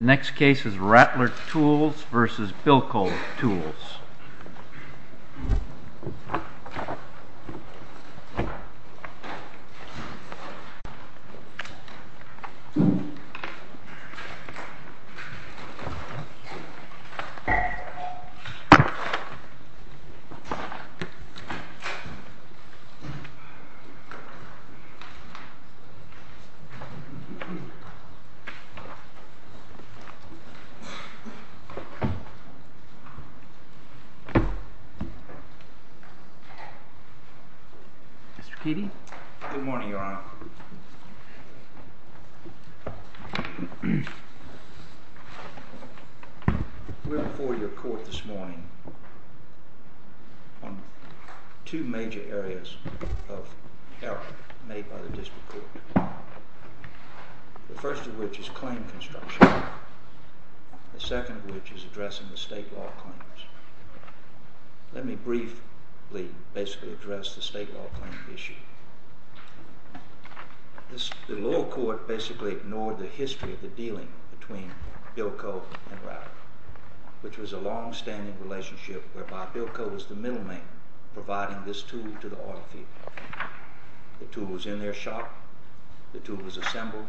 Next case is Rattler Tools v. Bilco Tools Good morning, Your Honor. We are before your court this morning on two major areas of error made by the district court, the first of which is claim construction, the second of which is addressing the state law claims. Let me briefly basically address the state law claim issue. The lower court basically ignored the history of the dealing between Bilco and Rattler, which was a long-standing relationship whereby Bilco was the middleman providing this tool to the oil field. The tool was in their shop. The tool was assembled.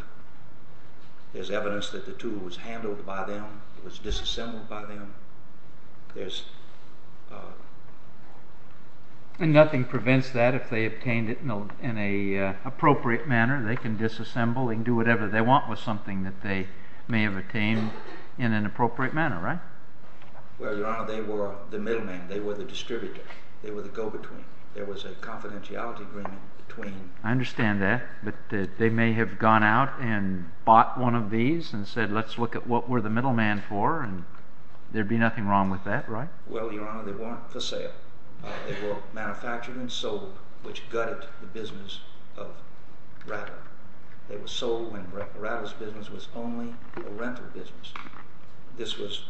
There's evidence that the tool was handled by them. It was disassembled by them. And nothing prevents that. If they obtained it in an appropriate manner, they can disassemble and do whatever they want with something that they may have obtained in an appropriate manner, right? Well, Your Honor, they were the middleman. They were the distributor. They were the go-between. There was a confidentiality agreement between... I understand that, but they may have gone out and bought one of these and said, let's look at what we're the middleman for, and there'd be nothing wrong with that, right? Well, Your Honor, they weren't for sale. They were manufactured and sold, which gutted the business of Rattler. They were sold when Rattler's business was only a rental business. This was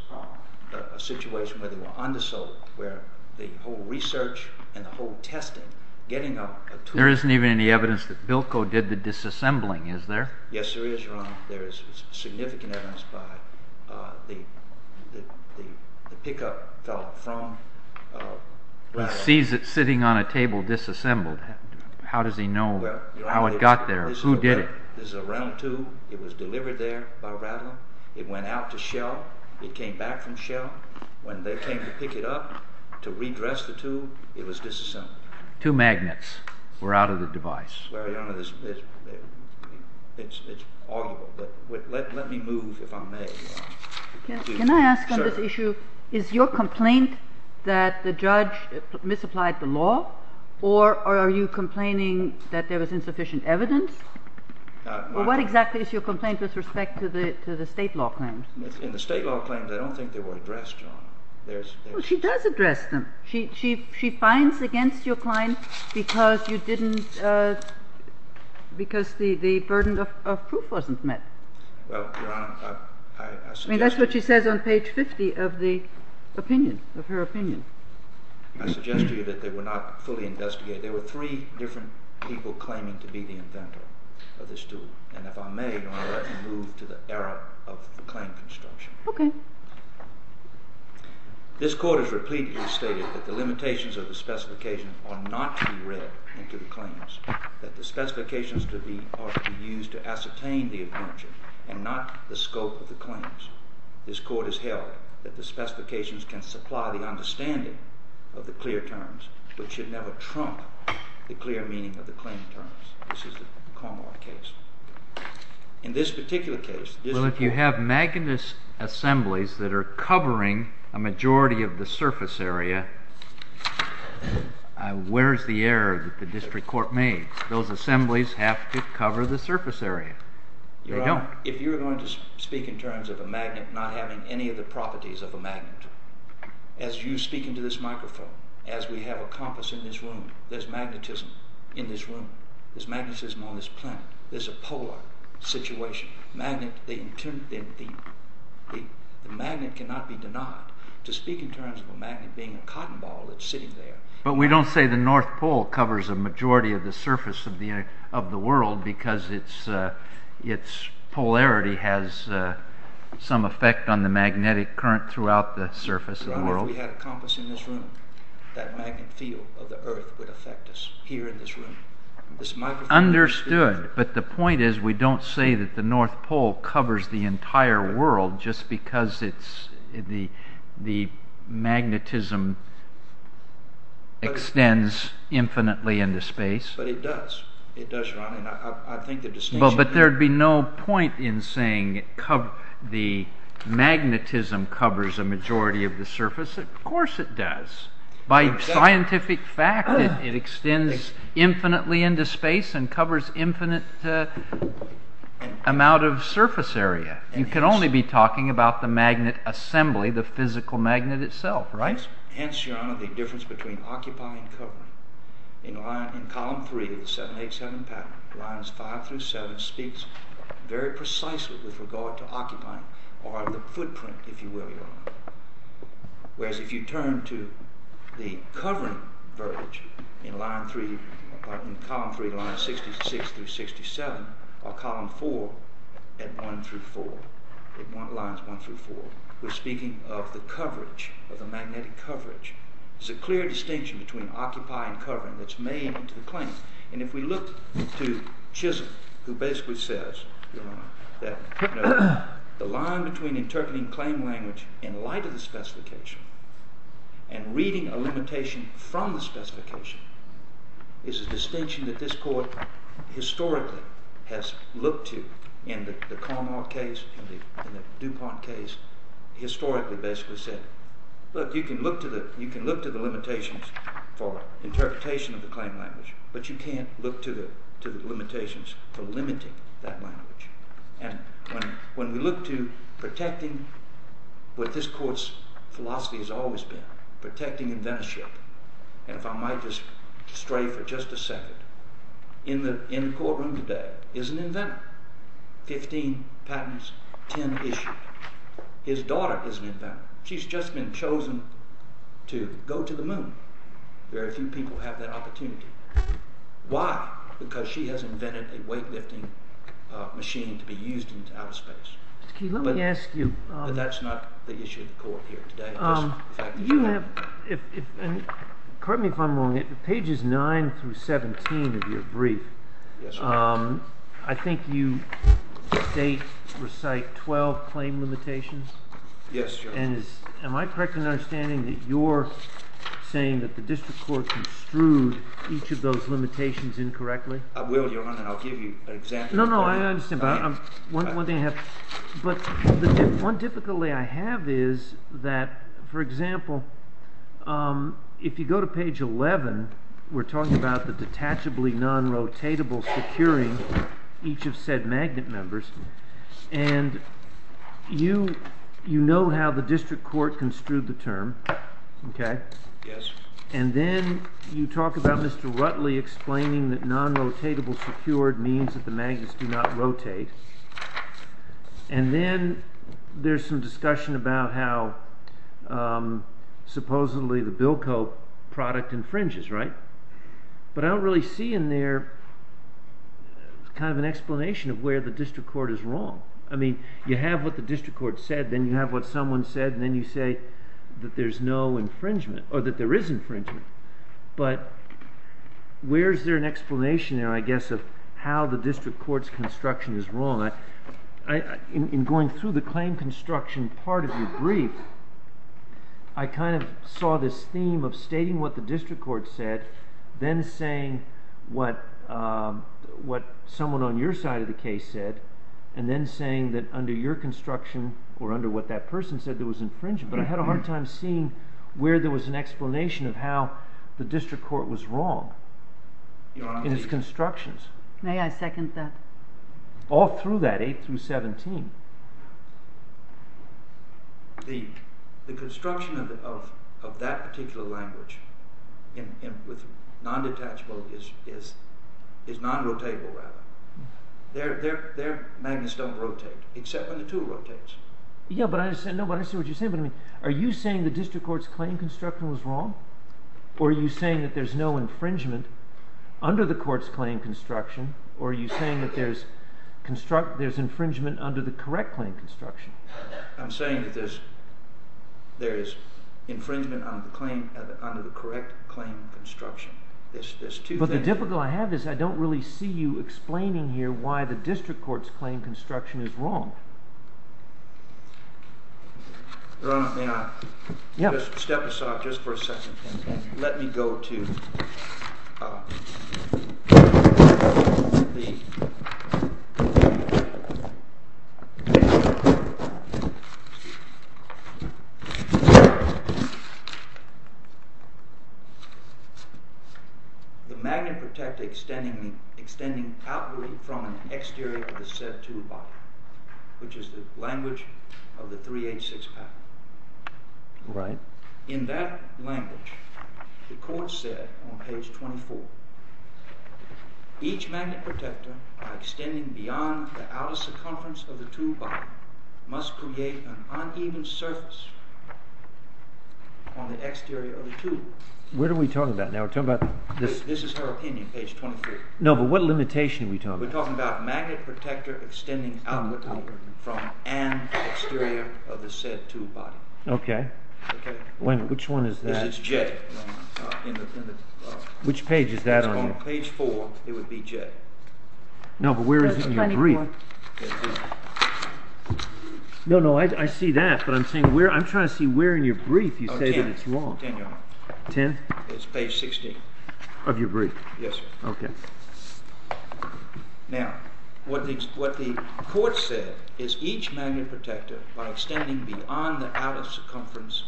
a situation where they were undersold, where the whole research and the whole testing, getting a tool... There isn't even any evidence that Bilko did the disassembling, is there? Yes, there is, Your Honor. There is significant evidence by the pickup fellow from Rattler. He sees it sitting on a table disassembled. How does he know how it got there? Who did it? This is a rental tool. It was delivered there by Rattler. It went out to Shell. It came back from Shell. When they came to pick it up to redress the tool, it was disassembled. Two magnets were out of the device. Well, Your Honor, it's arguable. Let me move, if I may. Can I ask on this issue, is your complaint that the judge misapplied the law, or are you complaining that there was insufficient evidence? What exactly is your complaint with respect to the state law claims? In the state law claims, I don't think they were addressed, Your Honor. Well, she does address them. She fines against your client because the burden of proof wasn't met. Well, Your Honor, I suggest... I mean, that's what she says on page 50 of the opinion, of her opinion. I suggest to you that they were not fully investigated. There were three different people claiming to be the inventor of this tool. And if I may, Your Honor, I'd like to move to the era of the claim construction. OK. This Court has repeatedly stated that the limitations of the specification are not to be read into the claims, that the specifications are to be used to ascertain the adventure, and not the scope of the claims. This Court has held that the specifications can supply the understanding of the clear terms, but should never trump the clear meaning of the claim terms. This is the Commonwealth case. In this particular case, this Court... Well, if you have magnetist assemblies that are covering a majority of the surface area, where's the error that the district court made? Those assemblies have to cover the surface area. They don't. Your Honor, if you're going to speak in terms of a magnet not having any of the properties of a magnet, as you speak into this microphone, as we have a compass in this room, there's magnetism in this room. There's magnetism on this planet. There's a polar situation. The magnet cannot be denied. To speak in terms of a magnet being a cotton ball that's sitting there... But we don't say the North Pole covers a majority of the surface of the world because its polarity has some effect on the magnetic current throughout the surface of the world. Your Honor, if we had a compass in this room, that magnet field of the earth would affect us here in this room. Understood, but the point is we don't say that the North Pole covers the entire world just because the magnetism extends infinitely into space. But it does. It does, Your Honor, and I think the distinction... Wouldn't there be no point in saying the magnetism covers a majority of the surface? Of course it does. By scientific fact, it extends infinitely into space and covers an infinite amount of surface area. You can only be talking about the magnet assembly, the physical magnet itself, right? Hence, Your Honor, the difference between occupying and covering. In column 3 of the 787 pattern, lines 5 through 7 speaks very precisely with regard to occupying or the footprint, if you will, Your Honor. Whereas if you turn to the covering verbiage in column 3, lines 66 through 67, or column 4 at lines 1 through 4, we're speaking of the coverage, of the magnetic coverage. There's a clear distinction between occupy and covering that's made into the claim. And if we look to Chisholm, who basically says that the line between interpreting claim language in light of the specification and reading a limitation from the specification is a distinction that this Court historically has looked to in the Carmar case and the DuPont case, historically basically said, look, you can look to the limitations for interpretation of the claim language, but you can't look to the limitations for limiting that language. And when we look to protecting what this Court's philosophy has always been, protecting inventorship, and if I might just stray for just a second, in the courtroom today is an inventor. Fifteen patterns, ten issues. His daughter is an inventor. She's just been chosen to go to the moon. Very few people have that opportunity. Why? Because she has invented a weightlifting machine to be used in outer space. But that's not the issue of the Court here today. You have, and correct me if I'm wrong, pages 9 through 17 of your brief, I think you state, recite, 12 claim limitations? Yes, Your Honor. And am I correct in understanding that you're saying that the district court construed each of those limitations incorrectly? I will, Your Honor, and I'll give you an example. No, no, I understand, but one difficulty I have is that, for example, if you go to page 11, we're talking about the detachably non-rotatable securing each of said magnet members, and you know how the district court construed the term, okay? Yes. And then you talk about Mr. Rutley explaining that non-rotatable secured means that the magnets do not rotate, and then there's some discussion about how supposedly the Bilco product infringes, right? But I don't really see in there kind of an explanation of where the district court is wrong. I mean, you have what the district court said, then you have what someone said, and then you say that there's no infringement, or that there is infringement. But where is there an explanation, I guess, of how the district court's construction is wrong? In going through the claim construction part of your brief, I kind of saw this theme of stating what the district court said, then saying what someone on your side of the case said, and then saying that under your construction, or under what that person said, there was infringement. But I had a hard time seeing where there was an explanation of how the district court was wrong in its constructions. May I second that? All through that, 8 through 17. The construction of that particular language with non-detachable is non-rotatable, rather. Their magnets don't rotate, except when the tool rotates. Yeah, but I understand what you're saying. Are you saying the district court's claim construction was wrong, or are you saying that there's no infringement under the court's claim construction, or are you saying that there's infringement under the correct claim construction? I'm saying that there is infringement under the correct claim construction. But the difficulty I have is I don't really see you explaining here why the district court's claim construction is wrong. Your Honor, may I? Yeah. Step aside just for a second. Let me go to the magnet protect extending outward from an exterior of the set tool body, which is the language of the 386 patent. Right. In that language, the court said on page 24, each magnet protector by extending beyond the outer circumference of the tool body must create an uneven surface on the exterior of the tool. Where are we talking about now? We're talking about this. This is her opinion, page 23. No, but what limitation are we talking about? We're talking about magnet protector extending outward from an exterior of the said tool body. Okay. Which one is that? This is J. Which page is that on? It's on page 4. It would be J. No, but where is it in your brief? Page 24. No, no, I see that, but I'm trying to see where in your brief you say that it's wrong. 10, Your Honor. 10? It's page 16. Of your brief? Yes, sir. Okay. Now, what the court said is each magnet protector by extending beyond the outer circumference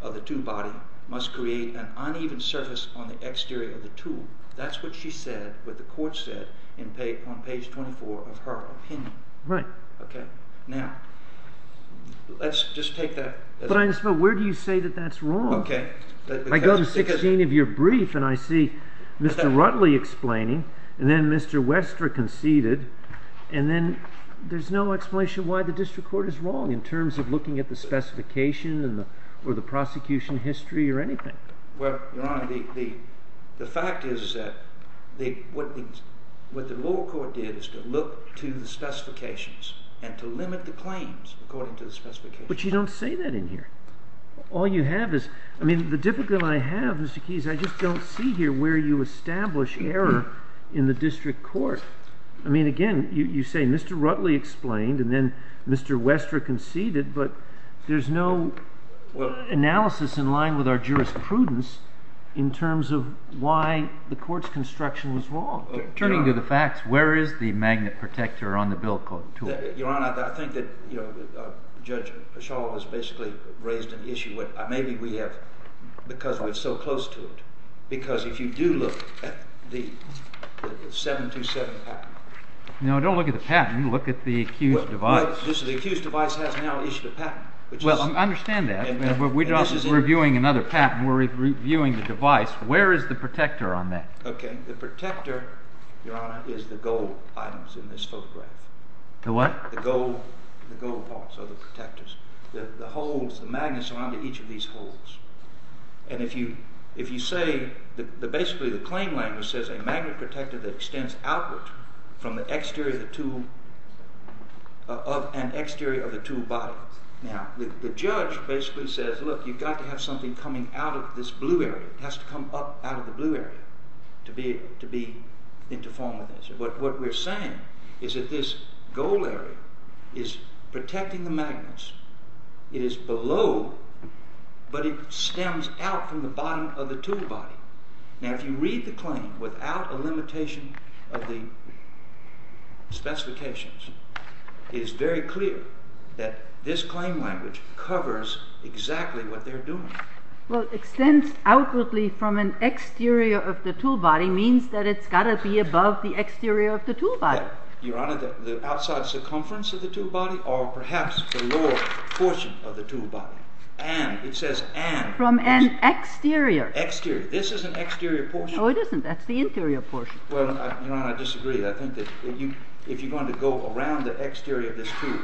of the tool body must create an uneven surface on the exterior of the tool. That's what she said, what the court said on page 24 of her opinion. Right. Okay. Now, let's just take that. But where do you say that that's wrong? Okay. I go to 16 of your brief, and I see Mr. Rutley explaining, and then Mr. Wester conceded, and then there's no explanation why the district court is wrong in terms of looking at the specification or the prosecution history or anything. Well, Your Honor, the fact is that what the lower court did is to look to the specifications and to limit the claims according to the specifications. But you don't say that in here. All you have is, I mean, the difficulty I have, Mr. Keyes, I just don't see here where you establish error in the district court. I mean, again, you say Mr. Rutley explained, and then Mr. Wester conceded, but there's no analysis in line with our jurisprudence in terms of why the court's construction was wrong. Turning to the facts, where is the magnet protector on the bill tool? Your Honor, I think that Judge Paschall has basically raised an issue. Maybe we have because we're so close to it. Because if you do look at the 727 patent. No, don't look at the patent. Look at the accused device. The accused device has now issued a patent. Well, I understand that, but we're not reviewing another patent. We're reviewing the device. Where is the protector on that? The protector, Your Honor, is the gold items in this photograph. The what? The gold parts, or the protectors, the holes, the magnets around each of these holes. And if you say that basically the claim language says a magnet protector that extends outward from the exterior of the tool body. Now, the judge basically says, look, you've got to have something coming out of this blue area. It has to come up out of the blue area to be into form with this. What we're saying is that this gold area is protecting the magnets. It is below, but it stems out from the bottom of the tool body. Now, if you read the claim without a limitation of the specifications, it is very clear that this claim language covers exactly what they're doing. Well, extends outwardly from an exterior of the tool body means that it's got to be above the exterior of the tool body. Your Honor, the outside circumference of the tool body, or perhaps the lower portion of the tool body. And it says and. From an exterior. Exterior. This is an exterior portion. Oh, it isn't. That's the interior portion. Well, Your Honor, I disagree. I think that if you're going to go around the exterior of this tool,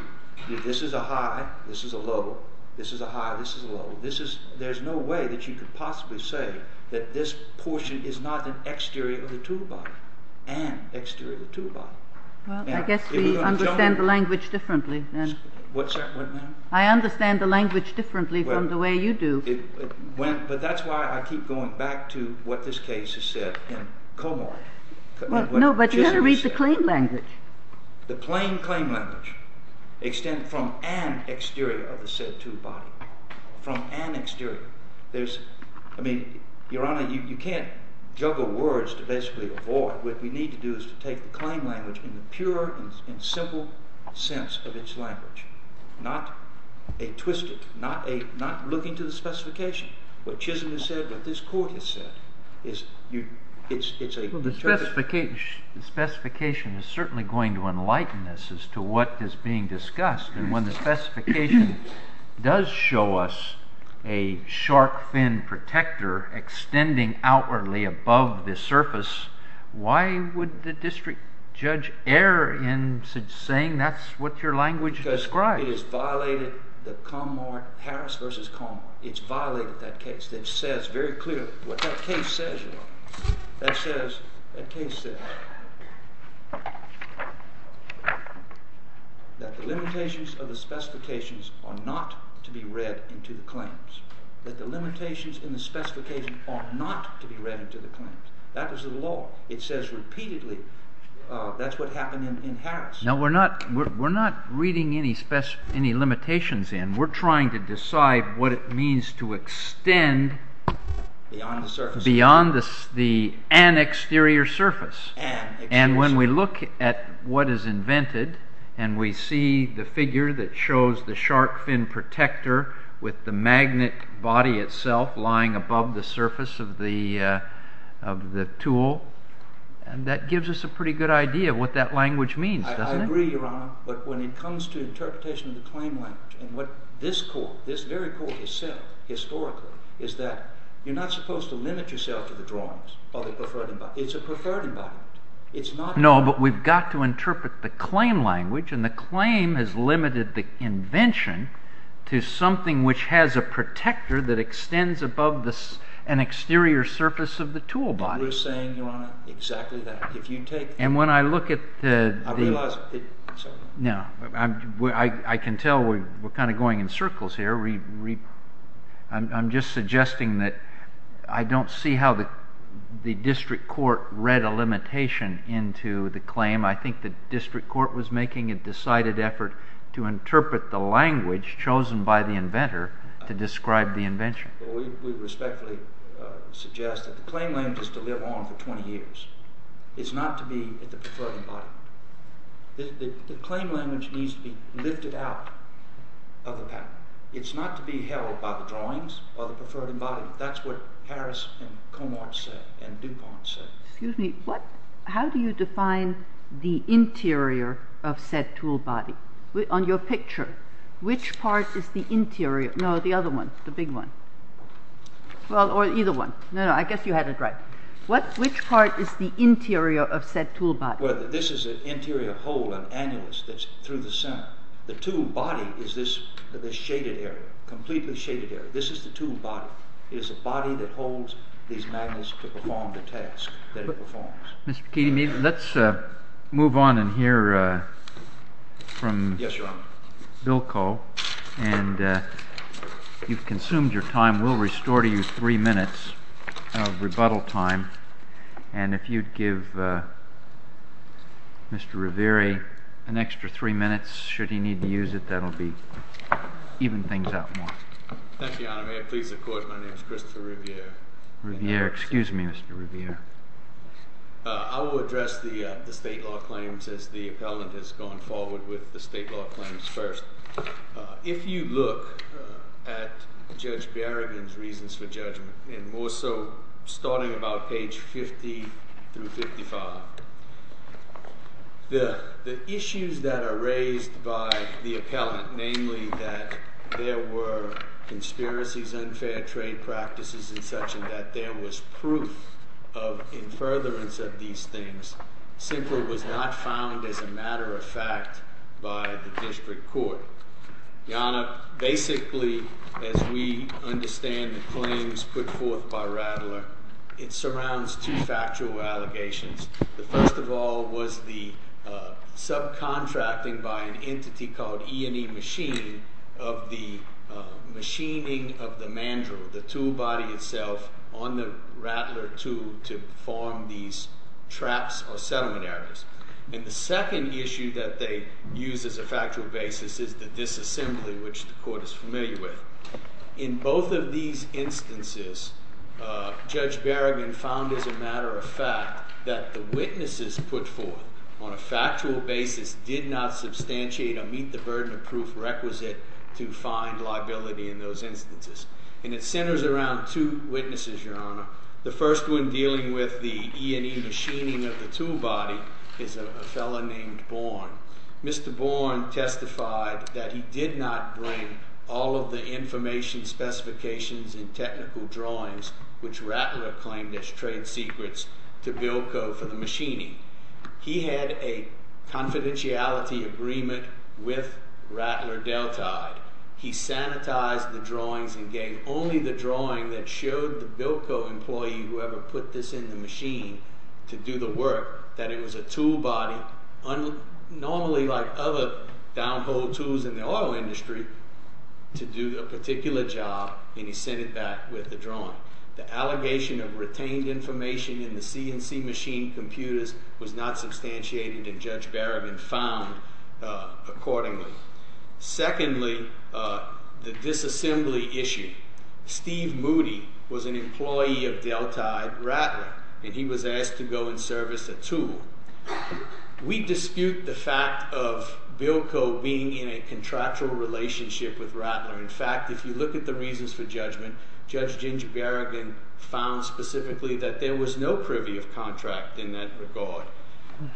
this is a high, this is a low, this is a high, this is a low. There's no way that you could possibly say that this portion is not an exterior of the tool body. An exterior of the tool body. Well, I guess we understand the language differently then. What, ma'am? I understand the language differently from the way you do. But that's why I keep going back to what this case has said in Comart. No, but you've got to read the claim language. The plain claim language extended from an exterior of the said tool body. From an exterior. There's, I mean, Your Honor, you can't juggle words to basically avoid. What we need to do is to take the claim language in the pure and simple sense of its language. Not a twisted, not a, not looking to the specification. What Chisholm has said, what this court has said, is you, it's, it's a. The specification is certainly going to enlighten us as to what is being discussed. And when the specification does show us a shark fin protector extending outwardly above the surface, why would the district judge err in saying that's what your language describes? Because it has violated the Comart Harris v. Comart. It's violated that case. It says very clearly what that case says, Your Honor. That says, that case says that the limitations of the specifications are not to be read into the claims. That the limitations in the specification are not to be read into the claims. That is the law. It says repeatedly that's what happened in Harris. Now, we're not, we're not reading any limitations in. We're trying to decide what it means to extend. Beyond the surface. Beyond the, an exterior surface. An exterior surface. And when we look at what is invented and we see the figure that shows the shark fin protector with the magnet body itself lying above the surface of the, of the tool, that gives us a pretty good idea of what that language means, doesn't it? I agree, Your Honor, but when it comes to interpretation of the claim language and what this court, this very court itself, historically, is that you're not supposed to limit yourself to the drawings or the preferred embodiment. It's a preferred embodiment. It's not. No, but we've got to interpret the claim language and the claim has limited the invention to something which has a protector that extends above the, an exterior surface of the tool body. We're saying, Your Honor, exactly that. If you take. And when I look at the. I realize. No, I can tell we're kind of going in circles here. I'm just suggesting that I don't see how the district court read a limitation into the claim. I think the district court was making a decided effort to interpret the language chosen by the inventor to describe the invention. We respectfully suggest that the claim language is to live on for 20 years. It's not to be the preferred embodiment. The claim language needs to be lifted out of the pattern. It's not to be held by the drawings or the preferred embodiment. That's what Harris and Comart said and DuPont said. Excuse me. How do you define the interior of said tool body? On your picture, which part is the interior? No, the other one, the big one. Well, or either one. No, no, I guess you had it right. Which part is the interior of said tool body? Well, this is an interior hole, an annulus that's through the center. The tool body is this shaded area, completely shaded area. This is the tool body. It is a body that holds these magnets to perform the task that it performs. Mr. McKeady, let's move on and hear from Bilko. And you've consumed your time. We'll restore to you three minutes of rebuttal time. And if you'd give Mr. Riviere an extra three minutes, should he need to use it, that will even things out more. Thank you, Your Honor. May it please the Court, my name is Christopher Riviere. Riviere. Excuse me, Mr. Riviere. I will address the state law claims as the appellant has gone forward with the state law claims first. If you look at Judge Berrigan's reasons for judgment, and more so starting about page 50 through 55, the issues that are raised by the appellant, namely that there were conspiracies, unfair trade practices and such, and that there was proof of in furtherance of these things, simply was not found as a matter of fact by the district court. Your Honor, basically, as we understand the claims put forth by Rattler, it surrounds two factual allegations. The first of all was the subcontracting by an entity called E&E Machining of the machining of the mandrel, the tool body itself, on the Rattler tool to form these traps or settlement areas. And the second issue that they use as a factual basis is the disassembly, which the Court is familiar with. In both of these instances, Judge Berrigan found as a matter of fact that the witnesses put forth on a factual basis did not substantiate or meet the burden of proof requisite to find liability in those instances. And it centers around two witnesses, Your Honor. The first one dealing with the E&E machining of the tool body is a fellow named Bourne. Mr. Bourne testified that he did not bring all of the information, specifications and technical drawings, which Rattler claimed as trade secrets, to Bilko for the machining. He had a confidentiality agreement with Rattler Deltide. He sanitized the drawings and gave only the drawing that showed the Bilko employee, whoever put this in the machine, to do the work, that it was a tool body, normally like other downhole tools in the auto industry, to do a particular job, and he sent it back with the drawing. The allegation of retained information in the CNC machine computers was not substantiated, and Judge Berrigan found accordingly. Secondly, the disassembly issue. Steve Moody was an employee of Deltide Rattler, and he was asked to go and service a tool. We dispute the fact of Bilko being in a contractual relationship with Rattler. In fact, if you look at the reasons for judgment, Judge Ginger Berrigan found specifically that there was no privy of contract in that regard.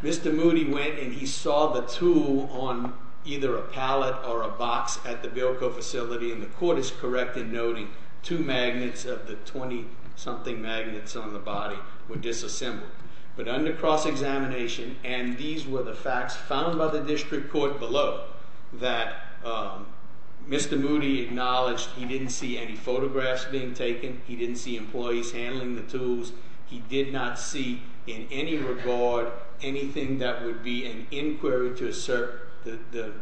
Mr. Moody went and he saw the tool on either a pallet or a box at the Bilko facility, and the court is correct in noting two magnets of the 20-something magnets on the body were disassembled. But under cross-examination, and these were the facts found by the district court below, that Mr. Moody acknowledged he didn't see any photographs being taken, he didn't see employees handling the tools, he did not see in any regard anything that would be an inquiry to assert the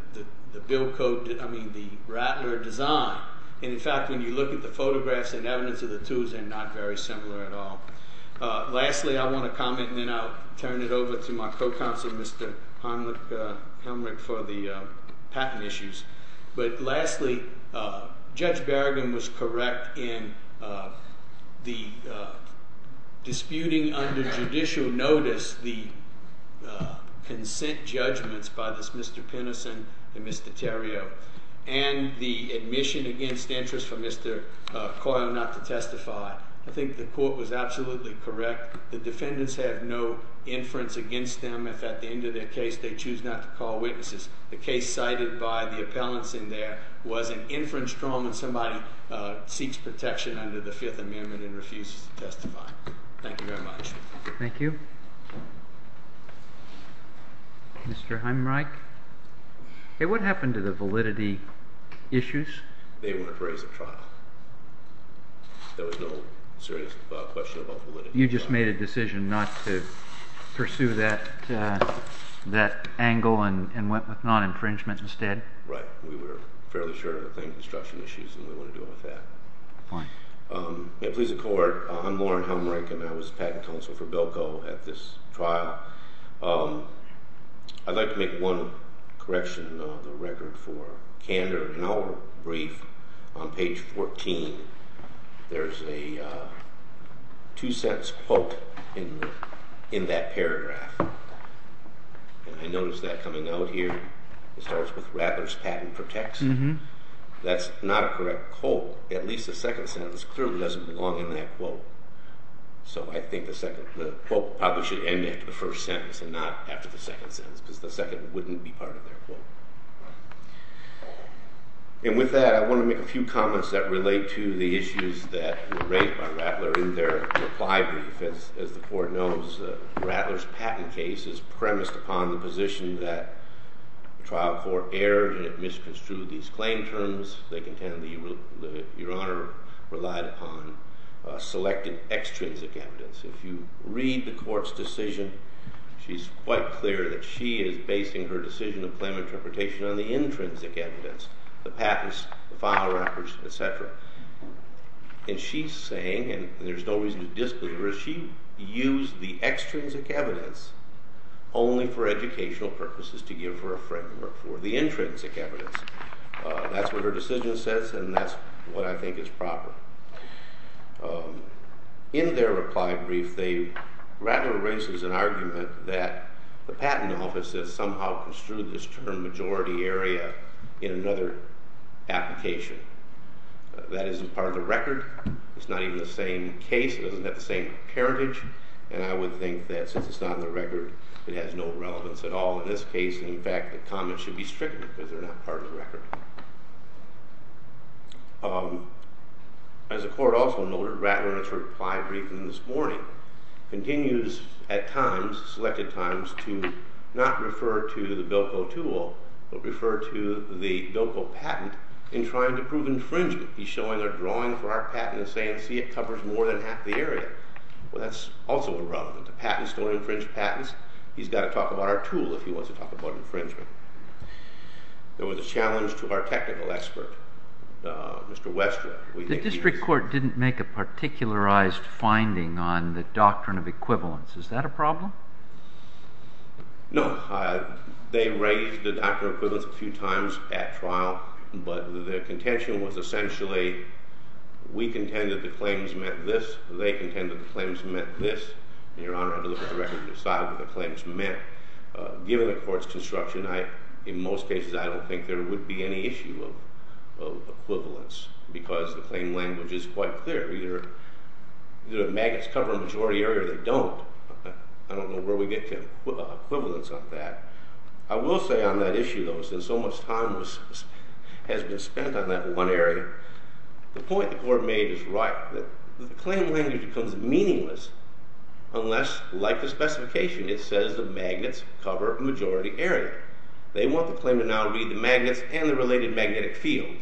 Bilko, I mean, the Rattler design. And in fact, when you look at the photographs and evidence of the tools, they're not very similar at all. Lastly, I want to comment, and then I'll turn it over to my co-counsel, Mr. Helmrich, for the patent issues. But lastly, Judge Berrigan was correct in the disputing under judicial notice the consent judgments by this Mr. Pinnison and Mr. Theriault and the admission against interest for Mr. Coyle not to testify. I think the court was absolutely correct. The defendants have no inference against them if at the end of their case they choose not to call witnesses. The case cited by the appellants in there was an inference trial when somebody seeks protection under the Fifth Amendment and refuses to testify. Thank you very much. Thank you. Mr. Helmrich? What happened to the validity issues? They weren't raised at trial. There was no serious question about validity. You just made a decision not to pursue that angle and went with non-infringement instead? Right. We were fairly sure of the construction issues, and we wanted to go with that. Please, the court, I'm Loren Helmrich, and I was patent counsel for Bilko at this trial. I'd like to make one correction on the record for Kander. In our brief on page 14, there's a two-sentence quote in that paragraph. I noticed that coming out here. It starts with, Rattler's patent protects. That's not a correct quote. At least the second sentence clearly doesn't belong in that quote. So I think the quote probably should end after the first sentence and not after the second sentence because the second wouldn't be part of their quote. With that, I want to make a few comments that relate to the issues that were raised by Rattler in their reply brief. As the court knows, Rattler's patent case is premised upon the position that the trial court erred and it misconstrued these claim terms. They contend that Your Honor relied upon selected extrinsic evidence. If you read the court's decision, she's quite clear that she is basing her decision of claim interpretation on the intrinsic evidence, the patents, the file records, et cetera. And she's saying, and there's no reason to dispute her, she used the extrinsic evidence only for educational purposes to give her a framework for the intrinsic evidence. That's what her decision says and that's what I think is proper. In their reply brief, Rattler raises an argument that the patent office has somehow construed this term majority area in another application. That isn't part of the record, it's not even the same case, it doesn't have the same heritage, and I would think that since it's not in the record, it has no relevance at all in this case. In fact, the comments should be stricter because they're not part of the record. As the court also noted, Rattler in its reply briefing this morning continues at times, selected times, to not refer to the Bilko tool, but refer to the Bilko patent in trying to prove infringement. He's showing a drawing for our patent and saying, see, it covers more than half the area. Well, that's also irrelevant. The patent is still an infringed patent. He's got to talk about our tool if he wants to talk about infringement. There was a challenge to our technical expert, Mr. Westrop. The district court didn't make a particularized finding on the doctrine of equivalence. Is that a problem? No. They raised the doctrine of equivalence a few times at trial, but the contention was essentially we contend that the claims meant this, they contend that the claims meant this, and Your Honor, I'd look at the record to decide what the claims meant. Given the court's construction, in most cases, I don't think there would be any issue of equivalence because the claim language is quite clear. Either the magnets cover a majority area or they don't. I don't know where we get to equivalence on that. I will say on that issue, though, since so much time has been spent on that one area, the point the court made is right. The claim language becomes meaningless unless, like the specification, it says the magnets cover a majority area. They want the claim to now read the magnets and the related magnetic field.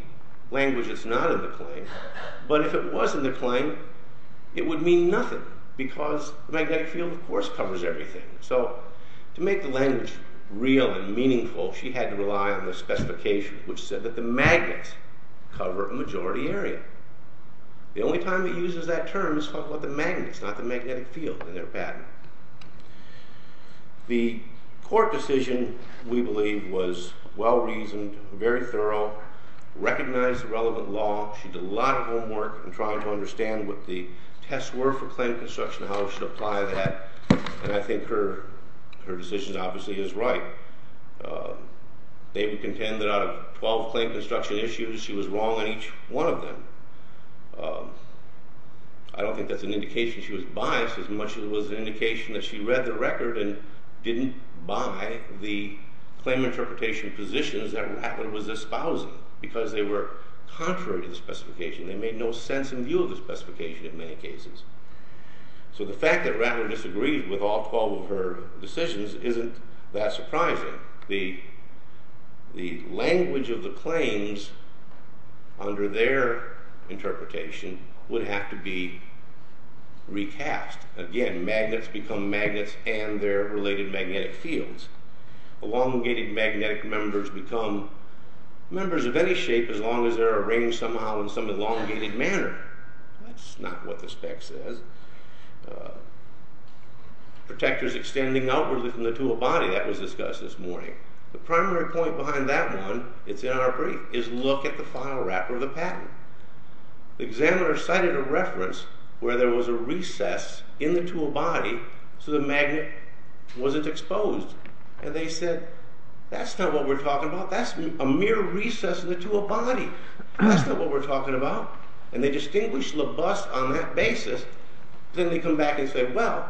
Language is not in the claim. But if it was in the claim, it would mean nothing because the magnetic field, of course, covers everything. So to make the language real and meaningful, she had to rely on the specification, which said that the magnets cover a majority area. The only time it uses that term is for the magnets, not the magnetic field in their patent. The court decision, we believe, was well-reasoned, very thorough, recognized the relevant law. She did a lot of homework in trying to understand what the tests were for claim construction, how it should apply that, and I think her decision obviously is right. They would contend that out of 12 claim construction issues, she was wrong on each one of them. I don't think that's an indication she was biased as much as it was an indication that she read the record and didn't buy the claim interpretation positions that Ratler was espousing because they were contrary to the specification. They made no sense in view of the specification in many cases. So the fact that Ratler disagrees with all 12 of her decisions isn't that surprising. The language of the claims under their interpretation would have to be recast. Again, magnets become magnets and their related magnetic fields. Elongated magnetic members become members of any shape as long as they're arranged somehow in some elongated manner. That's not what the spec says. Protectors extending outwardly from the tool body, that was discussed this morning. The primary point behind that one, it's in our brief, is look at the file wrapper of the patent. The examiner cited a reference where there was a recess in the tool body so the magnet wasn't exposed. And they said, that's not what we're talking about. That's a mere recess in the tool body. That's not what we're talking about. And they distinguished LaBosse on that basis. Then they come back and say, well,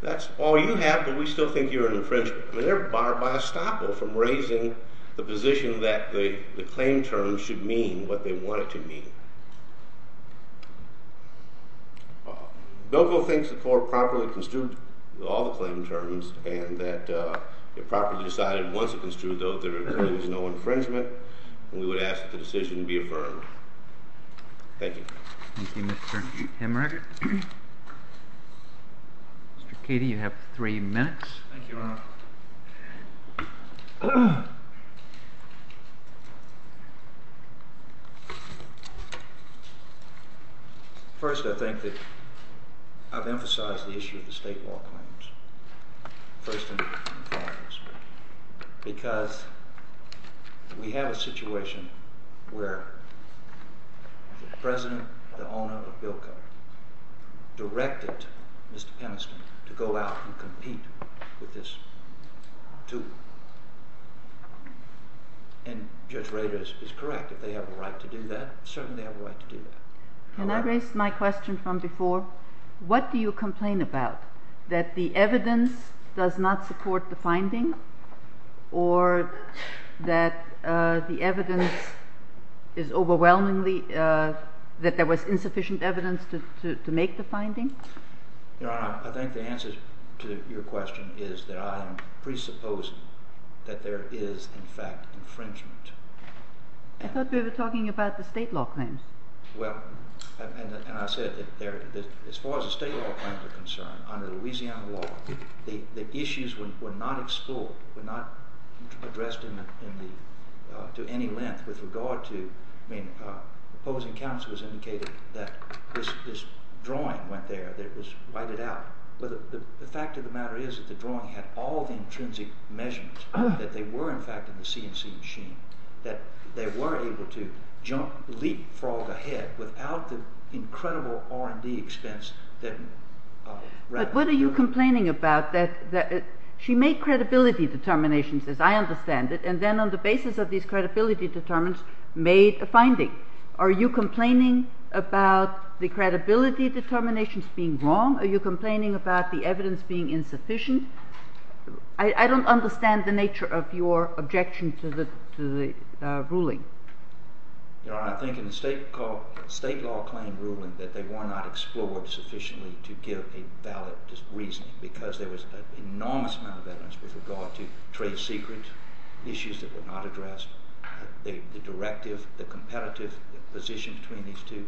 that's all you have, but we still think you're an infringement. They're barred by estoppel from raising the position that the claim terms should mean what they want it to mean. Belco thinks the court properly construed all the claim terms and that it properly decided once it construed those, there really was no infringement, and we would ask that the decision be affirmed. Thank you. Thank you, Mr. Hemrick. Mr. Katie, you have three minutes. Thank you, Your Honor. First, I think that I've emphasized the issue of the state law claims first and foremost, because we have a situation where the president, the owner of Belco, directed Mr. Peniston to go out and compete with this tool. And Judge Rader is correct. If they have a right to do that, certainly they have a right to do that. Can I raise my question from before? What do you complain about, that the evidence does not support the finding or that the evidence is overwhelmingly, that there was insufficient evidence to make the finding? Your Honor, I think the answer to your question is that I am presupposing that there is, in fact, infringement. I thought we were talking about the state law claims. Well, and I said that as far as the state law claims are concerned, under Louisiana law, the issues were not explored, were not addressed to any length with regard to, I mean, opposing counsel has indicated that this drawing went there, that it was whited out. The fact of the matter is that the drawing had all the intrinsic measurements, that they were, in fact, in the CNC machine, that they were able to leapfrog ahead without the incredible R&D expense that... But what are you complaining about, that she made credibility determinations, as I understand it, and then on the basis of these credibility determinants made a finding? Are you complaining about the credibility determinations being wrong? Are you complaining about the evidence being insufficient? I don't understand the nature of your objection to the ruling. Your Honor, I think in the state law claim ruling that they were not explored sufficiently to give a valid reasoning because there was an enormous amount of evidence with regard to trade secret issues that were not addressed. The directive, the competitive position between these two.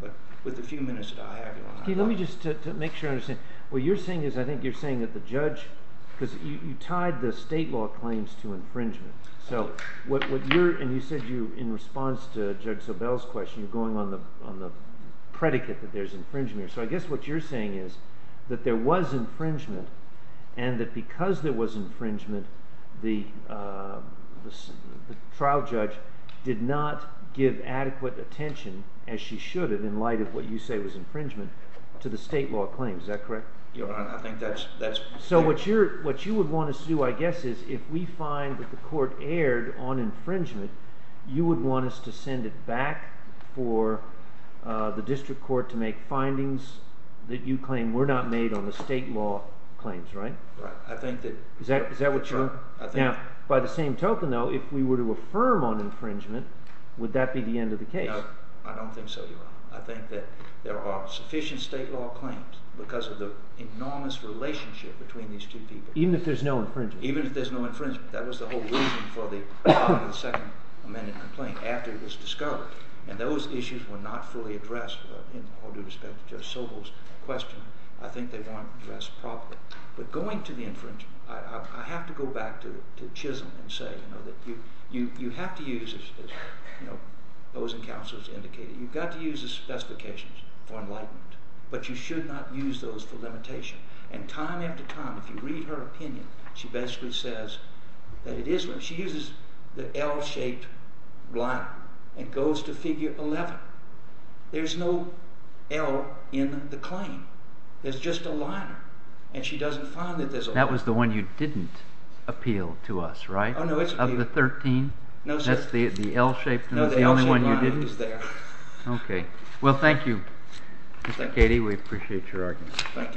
But with the few minutes that I have... Let me just make sure I understand. What you're saying is, I think you're saying that the judge, because you tied the state law claims to infringement. So what you're, and you said you, in response to Judge Sobel's question, you're going on the predicate that there's infringement. So I guess what you're saying is that there was infringement and that because there was infringement, the trial judge did not give adequate attention, as she should have, in light of what you say was infringement, to the state law claims. Is that correct? Your Honor, I think that's... So what you would want us to do, I guess, is if we find that the court erred on infringement, you would want us to send it back for the district court to make findings that you claim were not made on the state law claims, right? Right. I think that... Is that what you're... I think... Now, by the same token, though, if we were to affirm on infringement, would that be the end of the case? No, I don't think so, Your Honor. I think that there are sufficient state law claims because of the enormous relationship between these two people. Even if there's no infringement? Even if there's no infringement. That was the whole reason for the Second Amendment complaint, after it was discovered. And those issues were not fully addressed, in all due respect to Judge Sobel's question. I think they weren't addressed properly. But going to the infringement, I have to go back to Chisholm and say, you know, that you have to use, as, you know, those in counsel have indicated, you've got to use the specifications for enlightenment, but you should not use those for limitation. And time after time, if you read her opinion, she basically says that it is... She uses the L-shaped line and goes to Figure 11. There's no L in the claim. There's just a line. And she doesn't find that there's a line. That was the one you didn't appeal to us, right? Oh, no, it's... Of the 13? No, sir. That's the L-shaped one? No, the L-shaped line is there. Okay. We appreciate your argument. Thank you, Your Honor.